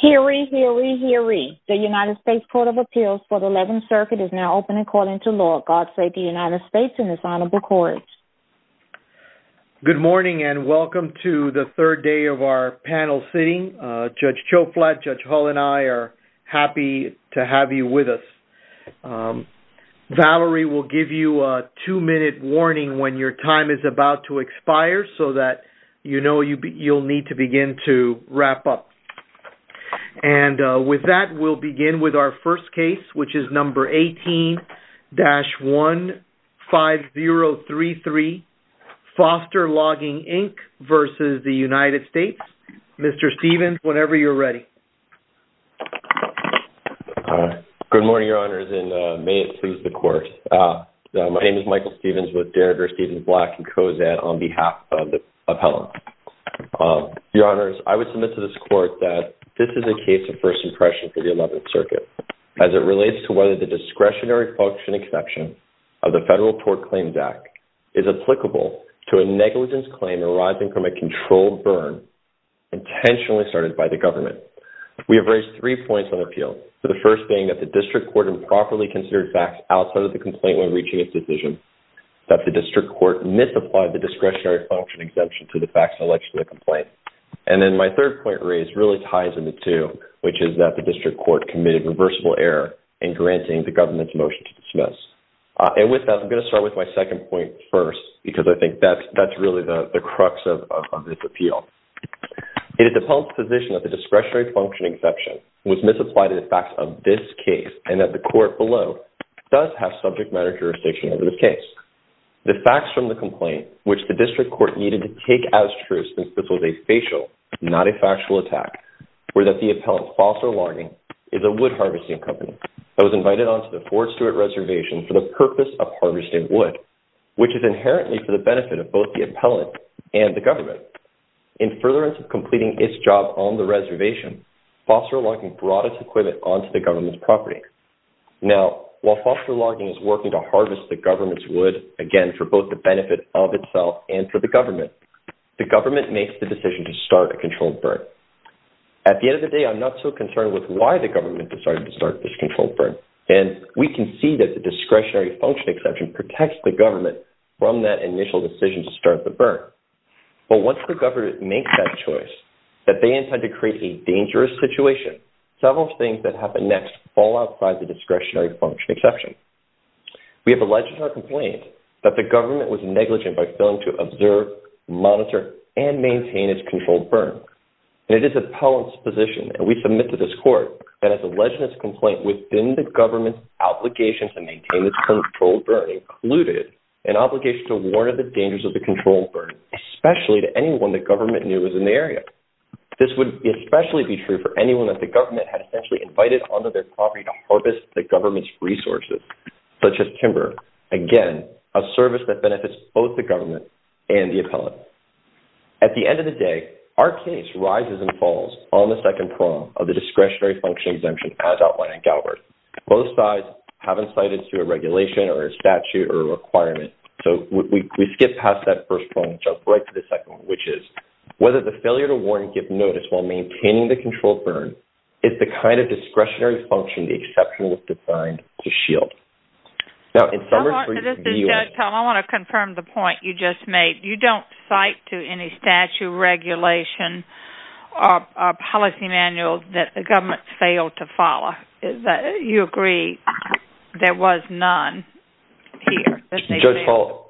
Hear ye, hear ye, hear ye. The United States Court of Appeals for the 11th Circuit is now open and calling to the Lord. God save the United States and His Honorable Courage. Good morning and welcome to the third day of our panel sitting. Judge Choflatte, Judge Hull, and I are happy to have you with us. Valerie will give you a two-minute warning when your time is about to expire so that you know you'll need to begin to wrap up. And with that, we'll begin with our first case, which is number 18-15033, Foster Logging, Inc. v. The United States. Mr. Stephens, whenever you're ready. Good morning, Your Honors, and may it please the Court. My name is Michael Stephens with Derrida, Stephens, Black, and Kozan on behalf of the appellant. Your Honors, I would submit to this Court that this is a case of first impression for the 11th Circuit as it relates to whether the discretionary function exception of the Federal Tort Claims Act is applicable to a negligence claim arising from a controlled burn intentionally started by the government. We have raised three points on appeal, the first being that the district court improperly considered facts outside of the complaint when reaching its decision, that the district court misapplied the discretionary function exemption to the facts alleged to the complaint. And then my third point raised really ties into two, which is that the district court committed reversible error in granting the government's motion to dismiss. And with that, I'm going to start with my second point first, because I think that's really the crux of this appeal. It is the appellant's position that the discretionary function exception was misapplied to the facts of this case, and that the court below does have subject matter jurisdiction over this case. The facts from the complaint, which the district court needed to take as true since this was a facial, not a factual attack, were that the appellant's false or logging is a wood harvesting company that was invited onto the Fort Stewart Reservation for the purpose of harvesting wood, which is inherently for the benefit of both the appellant and the government. In furtherance of completing its job on the reservation, false or logging brought its equipment onto the government's property. Now, while false or logging is working to harvest the government's wood, again, for both the benefit of itself and for the government, the government makes the decision to start a controlled burn. At the end of the day, I'm not so concerned with why the government decided to start this controlled burn, and we can see that the discretionary function exception protects the government from that initial decision to start the burn. But once the government makes that choice, that they intend to create a dangerous situation, several things that happen next fall outside the discretionary function exception. We have alleged in our complaint that the government was negligent by failing to observe, monitor, and maintain its controlled burn. And it is the appellant's position, and we submit to this court, that as alleged in this complaint, within the government's obligation to maintain its controlled burn included an obligation to warn of the dangers of the controlled burn, especially to anyone the government knew was in the area. This would especially be true for anyone that the government had essentially invited onto their property to harvest the government's resources, such as timber. Again, a service that benefits both the government and the appellant. At the end of the day, our case rises and falls on the second prong of the discretionary function exemption as outlined in Galbert. Both sides haven't cited to a regulation or a statute or a requirement. So we skip past that first prong and jump right to the second one, which is whether the failure to warn and give notice while maintaining the controlled burn is the kind of discretionary function the exception was designed to shield. Now, in summary for you I want to confirm the point you just made. You don't cite to any statute, regulation, or policy manual that the government failed to follow. You agree there was none here? Judge Hall,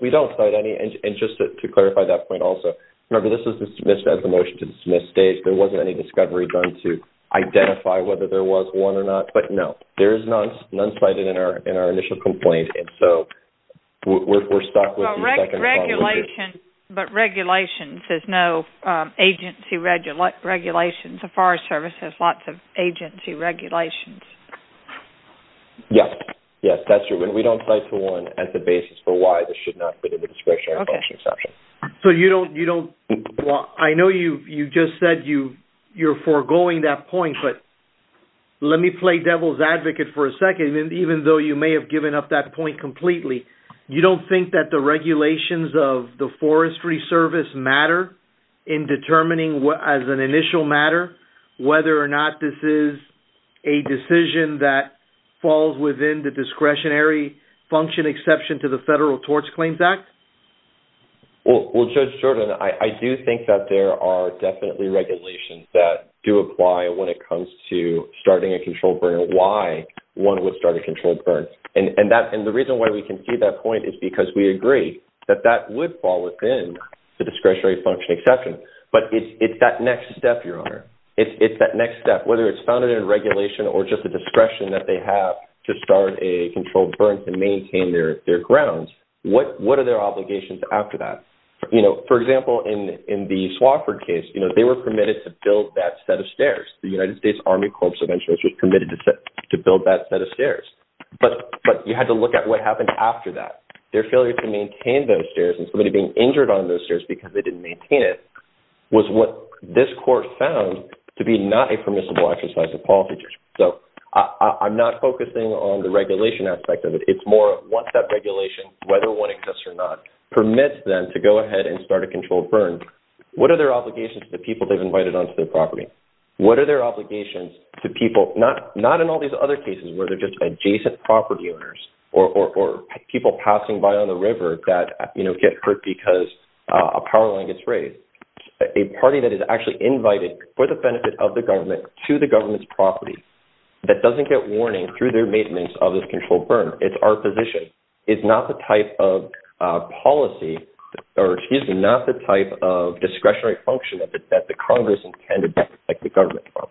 we don't cite any. And just to clarify that point also, remember this was a motion to dismiss states. There wasn't any discovery done to identify whether there was one or not. But no, there is none cited in our initial complaint. And so we're stuck with the second prong. But regulations, there's no agency regulations. The Forest Service has lots of agency regulations. Yes, that's true. And we don't cite to one as the basis for why should not be the discretionary function exception. I know you just said you're foregoing that point. But let me play devil's advocate for a second, even though you may have given up that point completely. You don't think that the regulations of the Forestry Service matter in determining as an initial matter whether or not this is a decision that falls within the discretionary function exception to the Federal Tort Claims Act? Well, Judge Jordan, I do think that there are definitely regulations that do apply when it comes to starting a controlled burn and why one would start a controlled burn. And the reason why we can see that point is because we agree that that would fall within the discretionary function exception. But it's that next step, Your Honor. It's that next step, whether it's regulation or just the discretion that they have to start a controlled burn to maintain their grounds, what are their obligations after that? For example, in the Swofford case, they were permitted to build that set of stairs. The United States Army Corps of Insurers was permitted to build that set of stairs. But you had to look at what happened after that. Their failure to maintain those stairs and somebody being injured on those stairs. So I'm not focusing on the regulation aspect of it. It's more what that regulation, whether one exists or not, permits them to go ahead and start a controlled burn. What are their obligations to the people they've invited onto their property? What are their obligations to people, not in all these other cases where they're just adjacent property owners or people passing by on the river that get hurt because a power line gets raised. A party that is actually invited for the benefit of the government to the government's property that doesn't get warning through their maintenance of this controlled burn. It's our position. It's not the type of policy or excuse me, not the type of discretionary function that the Congress intended to protect the government from.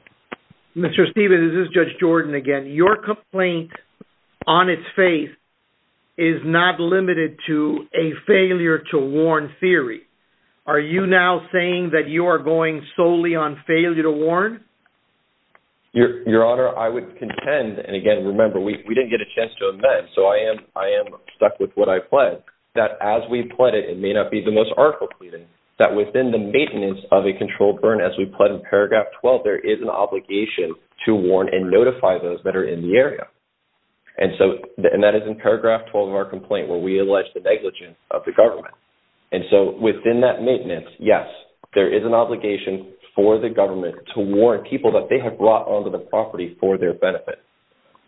Mr. Stevens, this is Judge Jordan again. Your complaint, on its face, is not limited to a failure to warn theory. Are you now saying that you are going solely on failure to warn? Your Honor, I would contend, and again, remember, we didn't get a chance to amend. So I am stuck with what I pledged, that as we pledged it, it may not be the most article pleading, that within the maintenance of a controlled burn, as we pledged in paragraph 12, there is an obligation to warn and notify those that are in the area. And so, and that is in paragraph 12 of our complaint, where we allege the negligence of the government. And so, within that maintenance, yes, there is an obligation for the government to warn people that they have brought onto the property for their benefit.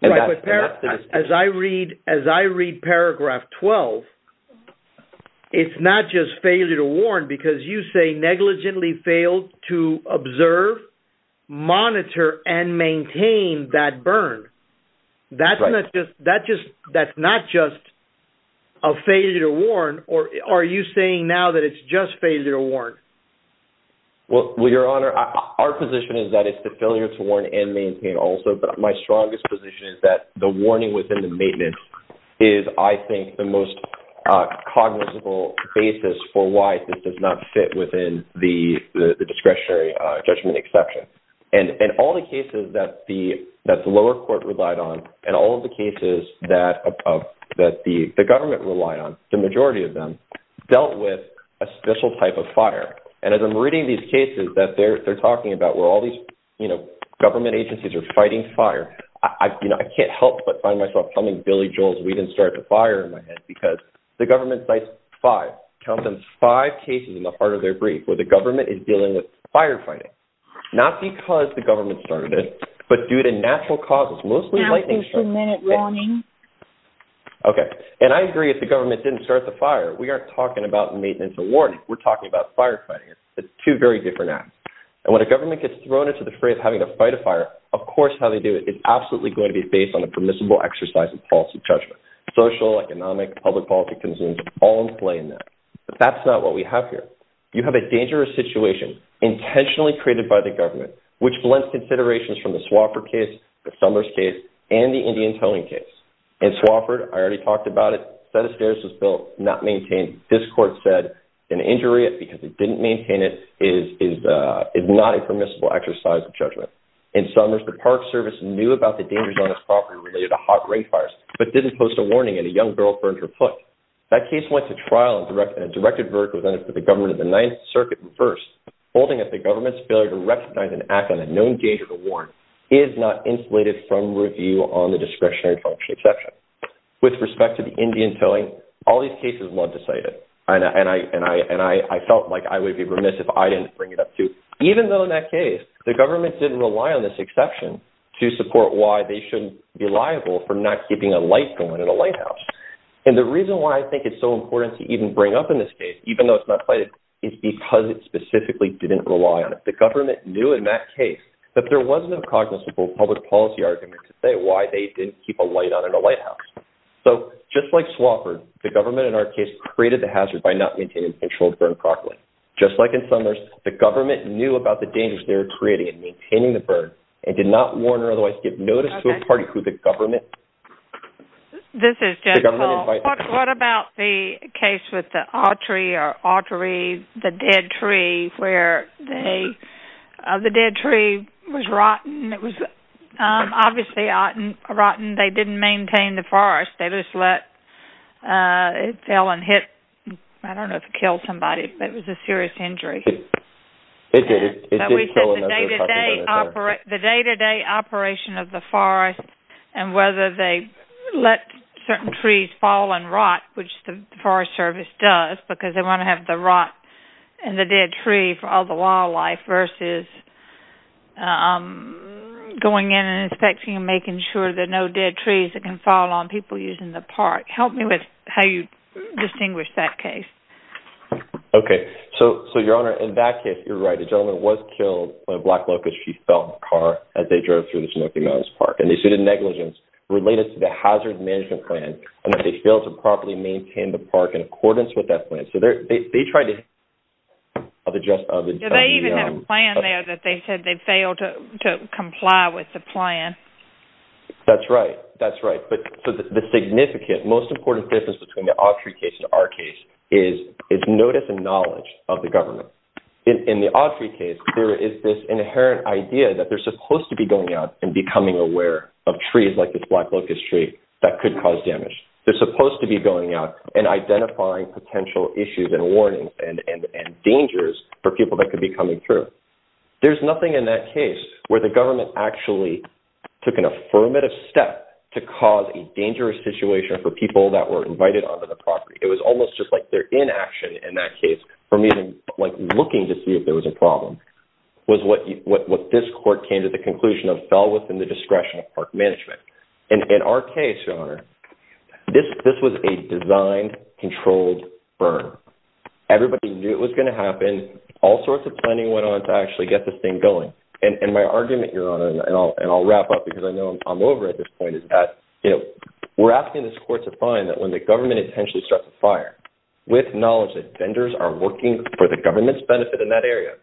Right, but as I read paragraph 12, it's not just failure to warn, because you say negligently failed to observe, monitor, and maintain that burn. That's not just a failure to warn, or are you saying now that it's just failure to warn? Well, Your Honor, our position is that it's the failure to warn and maintain also, but my strongest position is that the warning within the maintenance is, I think, the most cognizable basis for why this does not fit within the discretionary judgment exception. And all the cases that the lower court relied on, and all of the cases that the government relied on, the majority of them, dealt with a special type of fire. And as I'm reading these cases that they're talking about, where all these, you know, Billy Joel's, we didn't start the fire in my head, because the government cites five, count them five cases in the heart of their brief, where the government is dealing with firefighting, not because the government started it, but due to natural causes, mostly lightning. Okay, and I agree if the government didn't start the fire, we aren't talking about maintenance or warning, we're talking about firefighting. It's two very different acts. And when a government gets thrown into the fray of having to fight a fire, of course, how they do it is absolutely going to be based on a permissible exercise of policy judgment, social, economic, public policy concerns all in play in that. But that's not what we have here. You have a dangerous situation intentionally created by the government, which blends considerations from the Swofford case, the Summers case, and the Indian Towing case. In Swofford, I already talked about it, set of stairs was built, not maintained. This court said an injury because it didn't maintain is not a permissible exercise of judgment. In Summers, the Park Service knew about the dangers on its property related to hot rain fires, but didn't post a warning and a young girl burned her foot. That case went to trial and a directed verdict was entered for the government of the Ninth Circuit first, holding that the government's failure to recognize and act on a known danger to warn is not insulated from review on the discretionary function exception. With respect to the Indian Towing, all these cases were not decided. And I felt like I would be remiss if I didn't bring it up too. Even though in that case, the government didn't rely on this exception to support why they shouldn't be liable for not keeping a light going in a lighthouse. And the reason why I think it's so important to even bring up in this case, even though it's not cited, is because it specifically didn't rely on it. The government knew in that case that there was no cognizable public policy argument to say why they didn't keep a light on in a lighthouse. So just like Swofford, the government in our case created the hazard by not maintaining controlled burn properly. Just like in Summers, the government knew about the dangers they were creating and maintaining the burn and did not warn or otherwise give notice to a party who the government... This is Jen Paul. What about the case with the Autry or Autry, the dead tree where the dead tree was rotten. It was obviously rotten. They didn't maintain the forest. They just let... It fell and hit... I don't know if it killed somebody, but it was a serious injury. It did. It did kill another person. The day-to-day operation of the forest and whether they let certain trees fall and rot, which the Forest Service does because they want to have the rot in the dead tree for all the fall on people using the park. Help me with how you distinguish that case. Okay. So, Your Honor, in that case, you're right. The gentleman was killed by a black locust. She fell in the car as they drove through the Snoky Mountains Park. And they sued in negligence related to the hazard management plan and that they failed to properly maintain the park in accordance with that plan. So they tried to... Do they even have a plan there that they said they failed to comply with the plan? That's right. That's right. But the significant, most important difference between the odd tree case and our case is notice and knowledge of the government. In the odd tree case, there is this inherent idea that they're supposed to be going out and becoming aware of trees like this black locust tree that could cause damage. They're supposed to be going out and identifying potential issues and warnings and dangers for people that could be coming through. There's nothing in that case where the government actually took an affirmative step to cause a dangerous situation for people that were invited onto the property. It was almost just like their inaction in that case from even looking to see if there was a problem was what this court came to the conclusion of fell within the discretion of park management. And in our case, Your Honor, this was a designed, controlled burn. Everybody knew it was going to actually get this thing going. And my argument, Your Honor, and I'll wrap up because I know I'm over at this point, is that we're asking this court to find that when the government intentionally starts a fire with knowledge that vendors are working for the government's benefit in that area,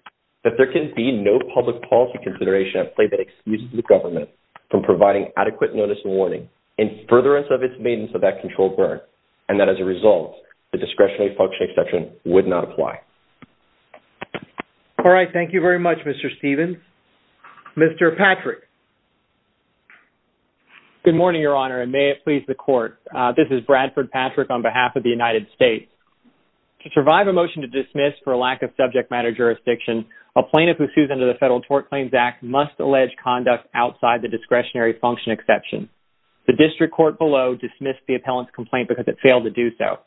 that there can be no public policy consideration at play that excuses the government from providing adequate notice and warning in furtherance of its maintenance of that controlled burn. And that as a result, the discretionary function, et cetera, would not apply. All right. Thank you very much, Mr. Stevens. Mr. Patrick. Good morning, Your Honor, and may it please the court. This is Bradford Patrick on behalf of the United States. To survive a motion to dismiss for a lack of subject matter jurisdiction, a plaintiff who sues under the Federal Tort Claims Act must allege conduct outside the discretionary function exception. The district court below dismissed the appellant's complaint because it failed to do so.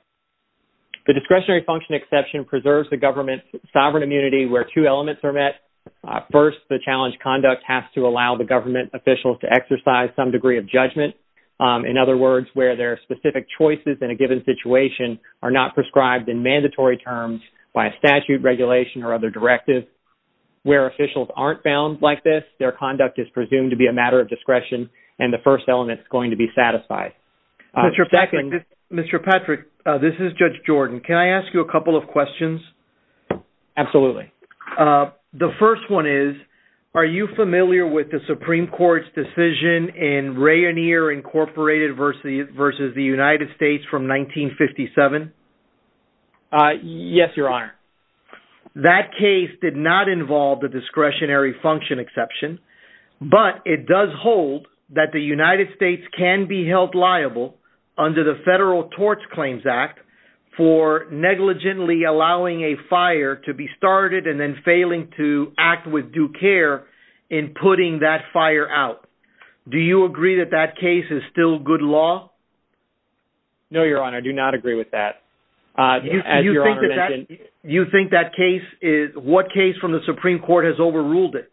The discretionary function exception preserves the government's sovereign immunity where two elements are met. First, the challenged conduct has to allow the government officials to exercise some degree of judgment. In other words, where their specific choices in a given situation are not prescribed in mandatory terms by a statute regulation or other directive. Where officials aren't bound like this, their conduct is presumed to be a Mr. Patrick, this is Judge Jordan. Can I ask you a couple of questions? Absolutely. The first one is, are you familiar with the Supreme Court's decision in Rainier Incorporated versus the United States from 1957? Yes, Your Honor. That case did not involve the discretionary function exception, but it does hold that the United States can be held liable under the Federal Tort Claims Act for negligently allowing a fire to be started and then failing to act with due care in putting that fire out. Do you agree that that case is still good law? No, Your Honor. I do not agree with that. As Your Honor mentioned- You think that case is, what case from the Supreme Court has overruled it?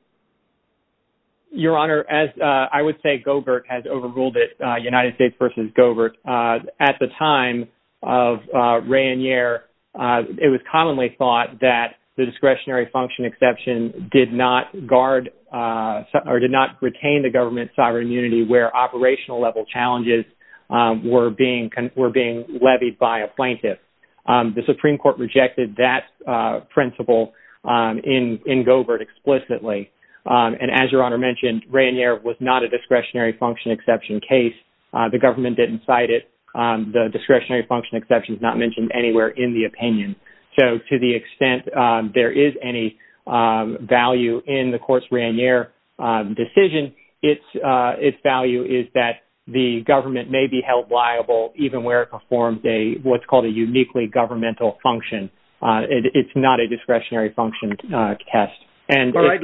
Your Honor, as I would say, Goebert has overruled it, United States versus Goebert. At the time of Rainier, it was commonly thought that the discretionary function exception did not guard or did not retain the government sovereign immunity where operational level challenges were being levied by a plaintiff. The Supreme Court rejected that principle in Goebert explicitly. And as Your Honor mentioned, Rainier was not a discretionary function exception case. The government didn't cite it. The discretionary function exception is not mentioned anywhere in the opinion. So to the extent there is any value in the court's Rainier decision, its value is that the government may be held liable even where it performs what's called a uniquely governmental function. It's not a discretionary function test. All right.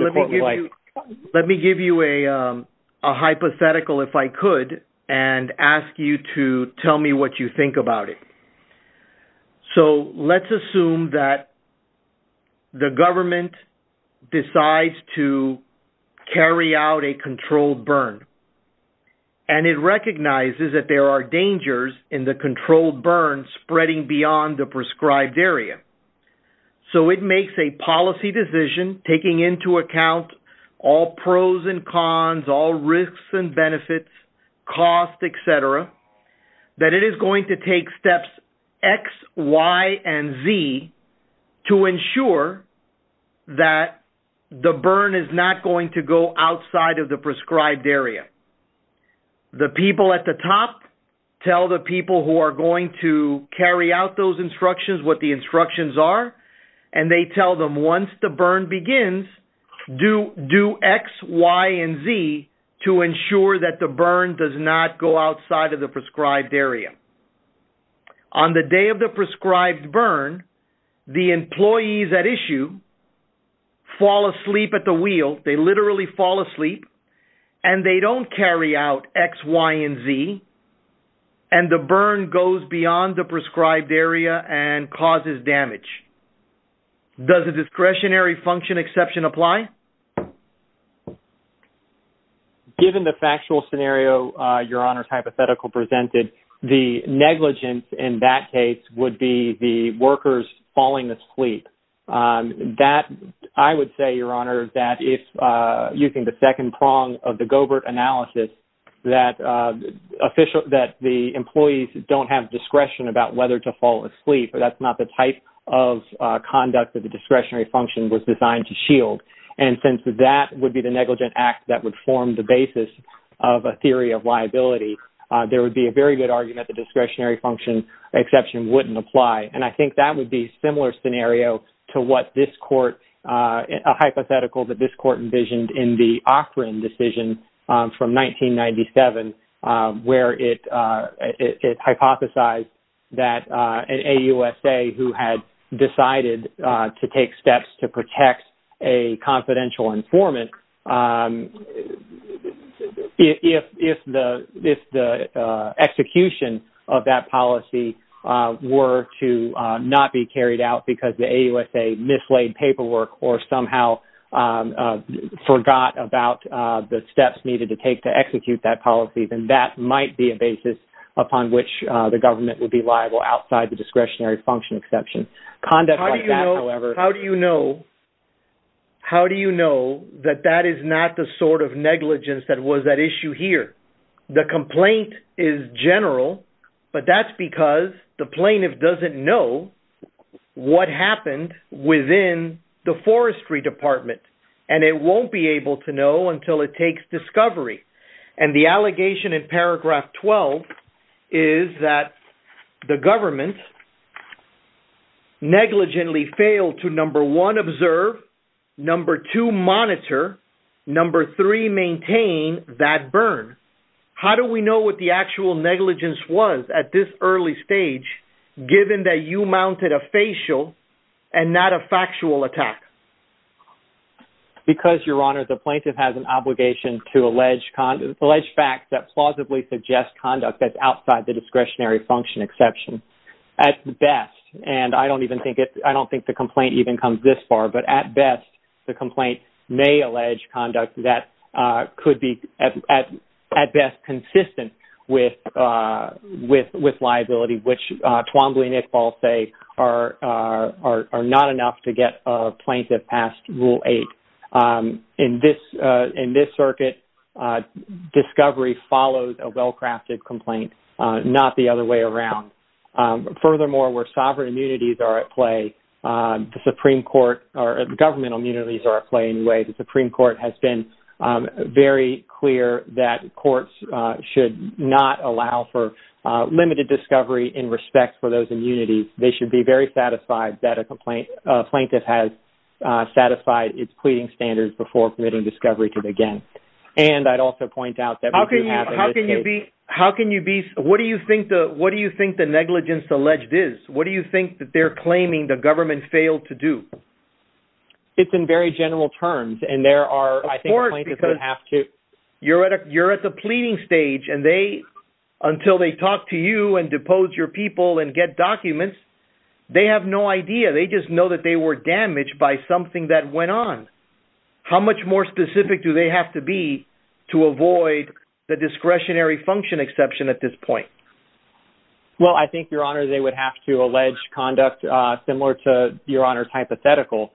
Let me give you a hypothetical, if I could, and ask you to tell me what you think about it. So let's assume that the government decides to carry out a controlled burn. And it recognizes that there are dangers in the controlled burn spreading beyond the prescribed area. So it makes a policy decision taking into account all pros and cons, all risks and benefits, cost, et cetera, that it is going to take steps X, Y, and Z to ensure that the burn is not going to go outside of the prescribed area. On the day of the prescribed burn, the employees at issue fall asleep at the wheel. They literally fall asleep. And they don't carry out X, Y, and Z. And the burn goes beyond the prescribed area and causes damage. Does a discretionary function exception apply? Given the factual scenario Your Honor's hypothetical presented, the negligence in that case would be the workers falling asleep. I would say, Your Honor, that if using the second that the employees don't have discretion about whether to fall asleep, that's not the type of conduct that the discretionary function was designed to shield. And since that would be the negligent act that would form the basis of a theory of liability, there would be a very good argument that the discretionary function exception wouldn't apply. And I think that would be a similar scenario to what this court, a hypothetical that this decision from 1997, where it hypothesized that an AUSA who had decided to take steps to protect a confidential informant, if the execution of that policy were to not be carried out because the AUSA mislaid paperwork or somehow forgot about the steps needed to take to execute that policy, then that might be a basis upon which the government would be liable outside the discretionary function exception. Conduct like that, however... How do you know that that is not the sort of negligence that was at issue here? The complaint is general, but that's because the plaintiff doesn't know what happened within the forestry department. And it won't be able to know until it takes discovery. And the allegation in paragraph 12 is that the government negligently failed to number one, how do we know what the actual negligence was at this early stage, given that you mounted a facial and not a factual attack? Because, Your Honor, the plaintiff has an obligation to allege facts that plausibly suggest conduct that's outside the discretionary function exception. At best, and I don't even think it... I don't think the complaint even comes this far, but at best, the complaint may allege conduct that could be at best consistent with liability, which Twombly and Iqbal say are not enough to get a plaintiff past Rule 8. In this circuit, discovery follows a well-crafted complaint, not the other way around. Furthermore, where sovereign immunities are at the Supreme Court has been very clear that courts should not allow for limited discovery in respect for those immunities. They should be very satisfied that a plaintiff has satisfied its pleading standards before committing discovery to begin. And I'd also point out that... How can you be... What do you think the negligence alleged is? What do you think that they're claiming the government failed to do? It's in very general terms, and there are... Of course, because you're at the pleading stage, and they... Until they talk to you and depose your people and get documents, they have no idea. They just know that they were damaged by something that went on. How much more specific do they have to be to avoid the discretionary function exception at this point? Well, I think, Your Honor, they would have to allege conduct similar to Your Honor's hypothetical.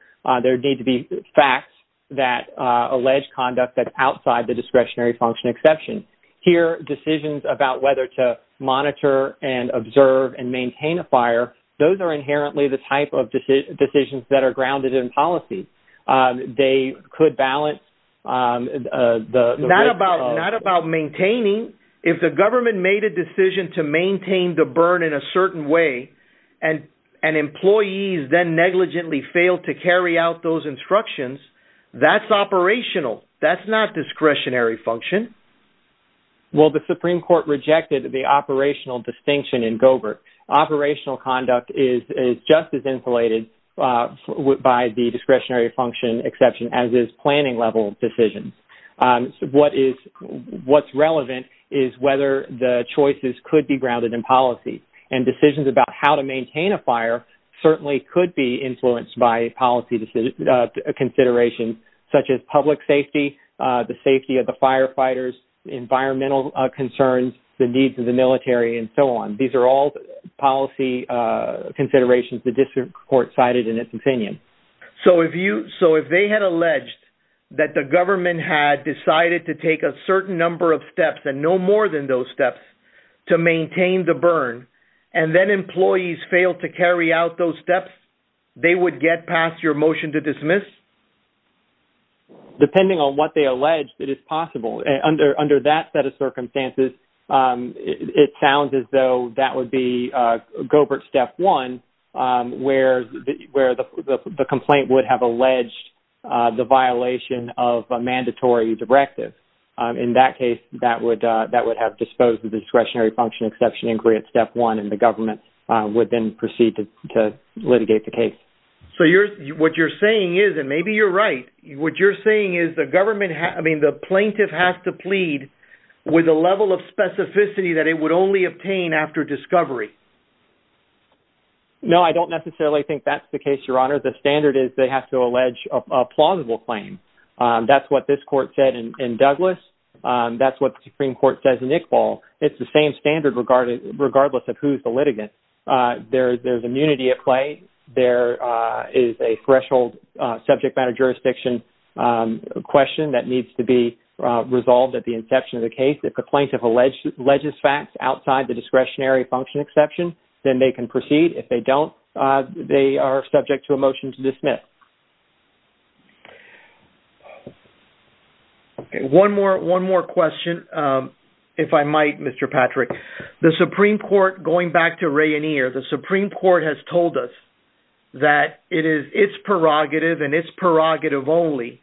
There need to be facts that allege conduct that's outside the discretionary function exception. Here, decisions about whether to monitor and observe and maintain a fire, those are inherently the type of decisions that are grounded in policy. They could balance the... Not about maintaining. If the government made a decision to maintain the burn in a certain way, and employees then negligently failed to carry out those instructions, that's operational. That's not discretionary function. Well, the Supreme Court rejected the operational distinction in Govert. Operational conduct is just as insulated by the discretionary function exception, as is planning level decisions. What is... What's relevant is whether the choices could be grounded in policy. And decisions about how to maintain a fire certainly could be influenced by policy considerations, such as public safety, the safety of the firefighters, environmental concerns, the needs of the military, and so on. These are all policy considerations the District Court cited in its opinion. So if you... So if they had alleged that the government had decided to take a certain number of steps, and no more than those steps, to maintain the burn, and then employees failed to carry out those steps, they would get past your motion to dismiss? Depending on what they alleged, it is possible. Under that set of circumstances, it sounds as though that would be Govert Step 1, where the complaint would have alleged the violation of a mandatory directive. In that case, that would have disposed of the discretionary function exception in Govert Step 1, and the government would then proceed to litigate the case. So what you're saying is, and maybe you're right, what you're saying is the plaintiff has to plead with a level of specificity that it would only obtain after discovery. No, I don't necessarily think that's the case, Your Honor. The standard is they have to allege a plausible claim. That's what this court said in Douglas. That's what the Supreme Court says in Iqbal. It's the same standard regardless of who's the litigant. There's a threshold subject matter jurisdiction question that needs to be resolved at the inception of the case. If the plaintiff alleges facts outside the discretionary function exception, then they can proceed. If they don't, they are subject to a motion to dismiss. One more question, if I might, Mr. Patrick. The Supreme Court, going back to Ray and Ear, the Supreme Court has told us that it is its prerogative and its prerogative only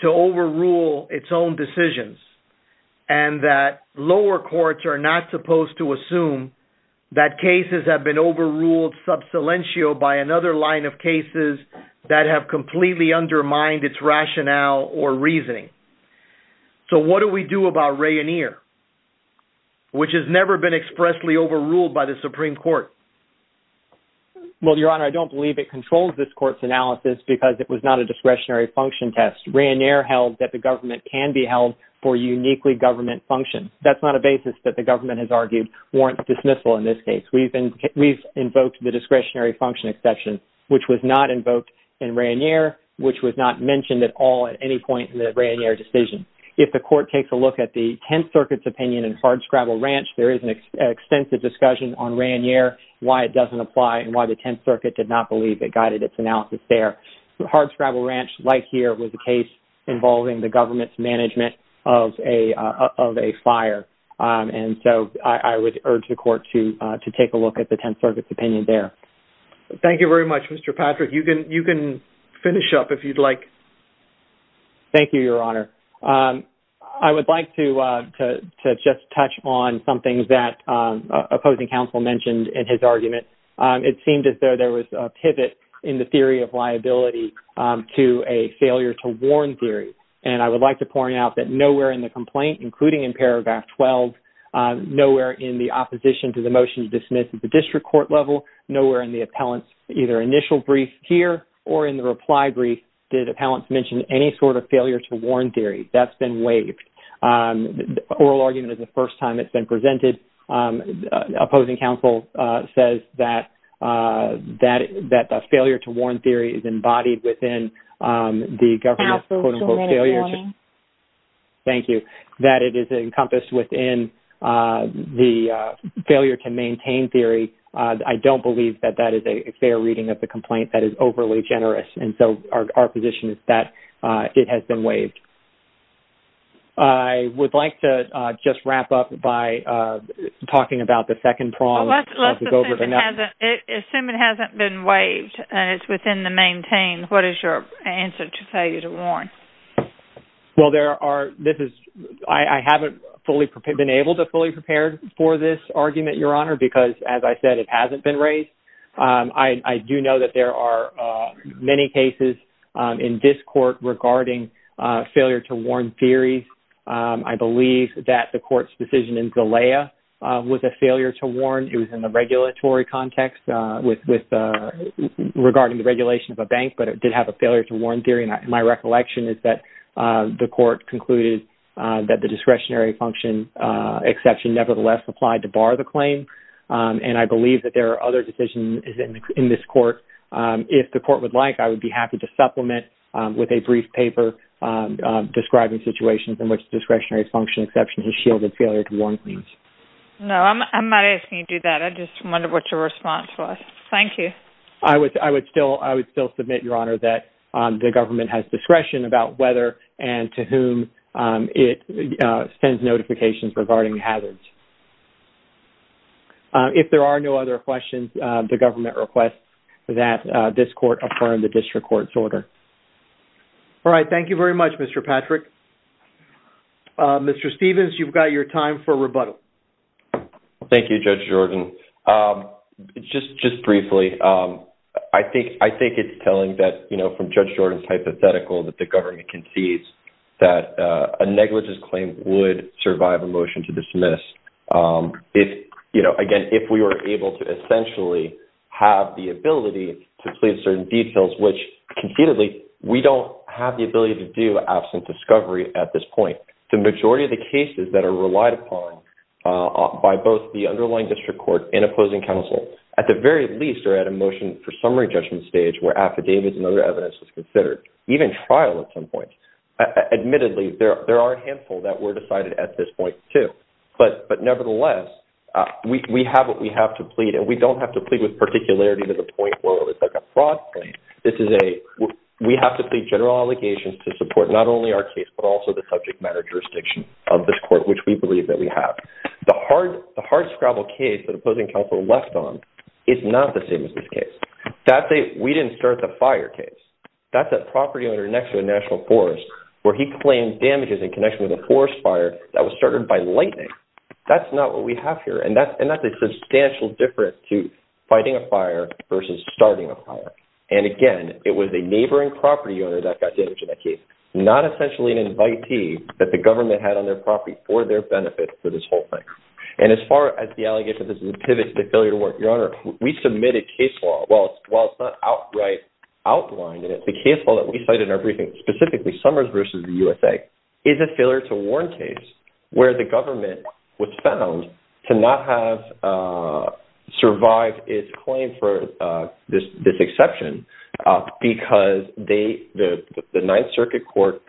to overrule its own decisions, and that lower courts are not supposed to assume that cases have been overruled sub silentio by another line of cases that have completely undermined its rationale or reasoning. So what do we do about Ray and Ear, which has never been expressly overruled by the Supreme Court? Well, Your Honor, I don't believe it controls this court's analysis because it was not a discretionary function test. Ray and Ear held that the government can be held for uniquely government function. That's not a basis that the government has argued warrants dismissal in this case. We've invoked the discretionary function exception, which was not invoked in Ray and Ear, which was not mentioned at all at any point in the Ray and Ear decision. If the court takes a look at the Tenth Circuit's opinion in Hardscrabble Ranch, there is an extensive discussion on Ray and Ear, why it doesn't apply and why the Tenth Circuit did not believe it guided its analysis there. Hardscrabble Ranch, like here, was a case involving the government's management of a fire. And so I would urge the court to take a look at the Tenth Circuit's opinion there. Thank you very much, Mr. Patrick. You can finish up if you'd like. Thank you, Your Honor. I would like to just touch on some things that opposing counsel mentioned in his argument. It seemed as though there was a pivot in the theory of liability to a failure to warn theory. And I would like to point out that nowhere in the complaint, including in paragraph 12, nowhere in the opposition to the motion to dismiss at the district court level, nowhere in the appellant's either initial brief here or in the reply brief did the appellant mention any sort of failure to warn theory. That's been waived. Oral argument is the first time it's been presented. Opposing counsel says that the failure to warn theory is embodied within the government's, quote-unquote, failure to... Counsel, so many warnings. Thank you. That it is encompassed within the failure to maintain theory, I don't believe that that is a fair reading of the complaint. That is overly generous. And so our position is that it has been waived. I would like to just wrap up by talking about the second prong. Well, let's assume it hasn't been waived and it's within the maintain. What is your answer to failure to warn? Well, I haven't been able to fully prepare for this argument, Your Honor, because as I said, it hasn't been raised. I do know that there are many cases in this court regarding failure to warn theory. I believe that the court's decision in Galea was a failure to warn. It was in the regulatory context regarding the regulation of a bank, but it did have a failure to warn theory. And my recollection is that the court concluded that the discretionary exception nevertheless applied to bar the claim. And I believe that there are other decisions in this court. If the court would like, I would be happy to supplement with a brief paper describing situations in which discretionary function exception has shielded failure to warn claims. No, I'm not asking you to do that. I just wonder what your response was. Thank you. I would still submit, Your Honor, that the government has discretion about whether and when to issue certifications regarding hazards. If there are no other questions, the government requests that this court affirm the district court's order. All right. Thank you very much, Mr. Patrick. Mr. Stevens, you've got your time for rebuttal. Thank you, Judge Jordan. Just briefly, I think it's telling that from Judge Jordan's hypothetical that the government concedes that a negligence claim would survive a motion to dismiss. Again, if we were able to essentially have the ability to plead certain details, which conceitedly, we don't have the ability to do absent discovery at this point. The majority of the cases that are relied upon by both the underlying district court and opposing counsel, at the very least, are at a motion for summary judgment stage where affidavits and other evidence is considered, even trial at some point. Admittedly, there are a handful that were decided at this point, too. But nevertheless, we have what we have to plead, and we don't have to plead with particularity to the point where it's like a fraud claim. This is a, we have to plead general allegations to support not only our case, but also the subject matter jurisdiction of this court, which we believe that we have. The hardscrabble case that opposing counsel left on is not the same as this case. That is a fire case. That's a property owner next to a national forest where he claimed damages in connection with a forest fire that was started by lightning. That's not what we have here, and that's a substantial difference to fighting a fire versus starting a fire. And again, it was a neighboring property owner that got damaged in that case, not essentially an invitee that the government had on their property for their benefit for this whole thing. And as far as the allegation that this is a pivot to the failure to work, Your Honor, we submitted case law. While it's not outright outlined in it, the case law that we cite in our briefing, specifically Summers versus the USA, is a failure to warn case where the government was found to not have survived its claim for this exception because the Ninth Circuit Court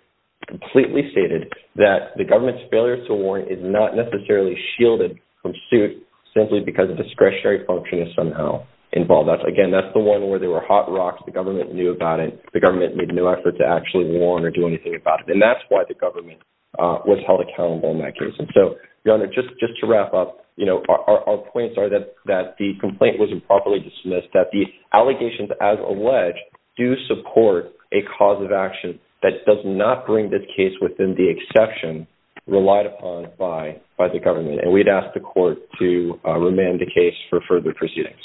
completely stated that the government's failure to warn is not necessarily shielded from suit simply because discretionary function is somehow involved. Again, that's the one where there were hot rocks. The government knew about it. The government made no effort to actually warn or do anything about it, and that's why the government was held accountable in that case. And so, Your Honor, just to wrap up, our points are that the complaint was improperly dismissed, that the allegations, as alleged, do support a cause of action that does not bring this case the exception relied upon by the government. And we'd ask the court to remand the case for further proceedings.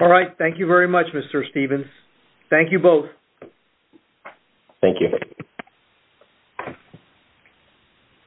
All right. Thank you very much, Mr. Stevens. Thank you both. Thank you.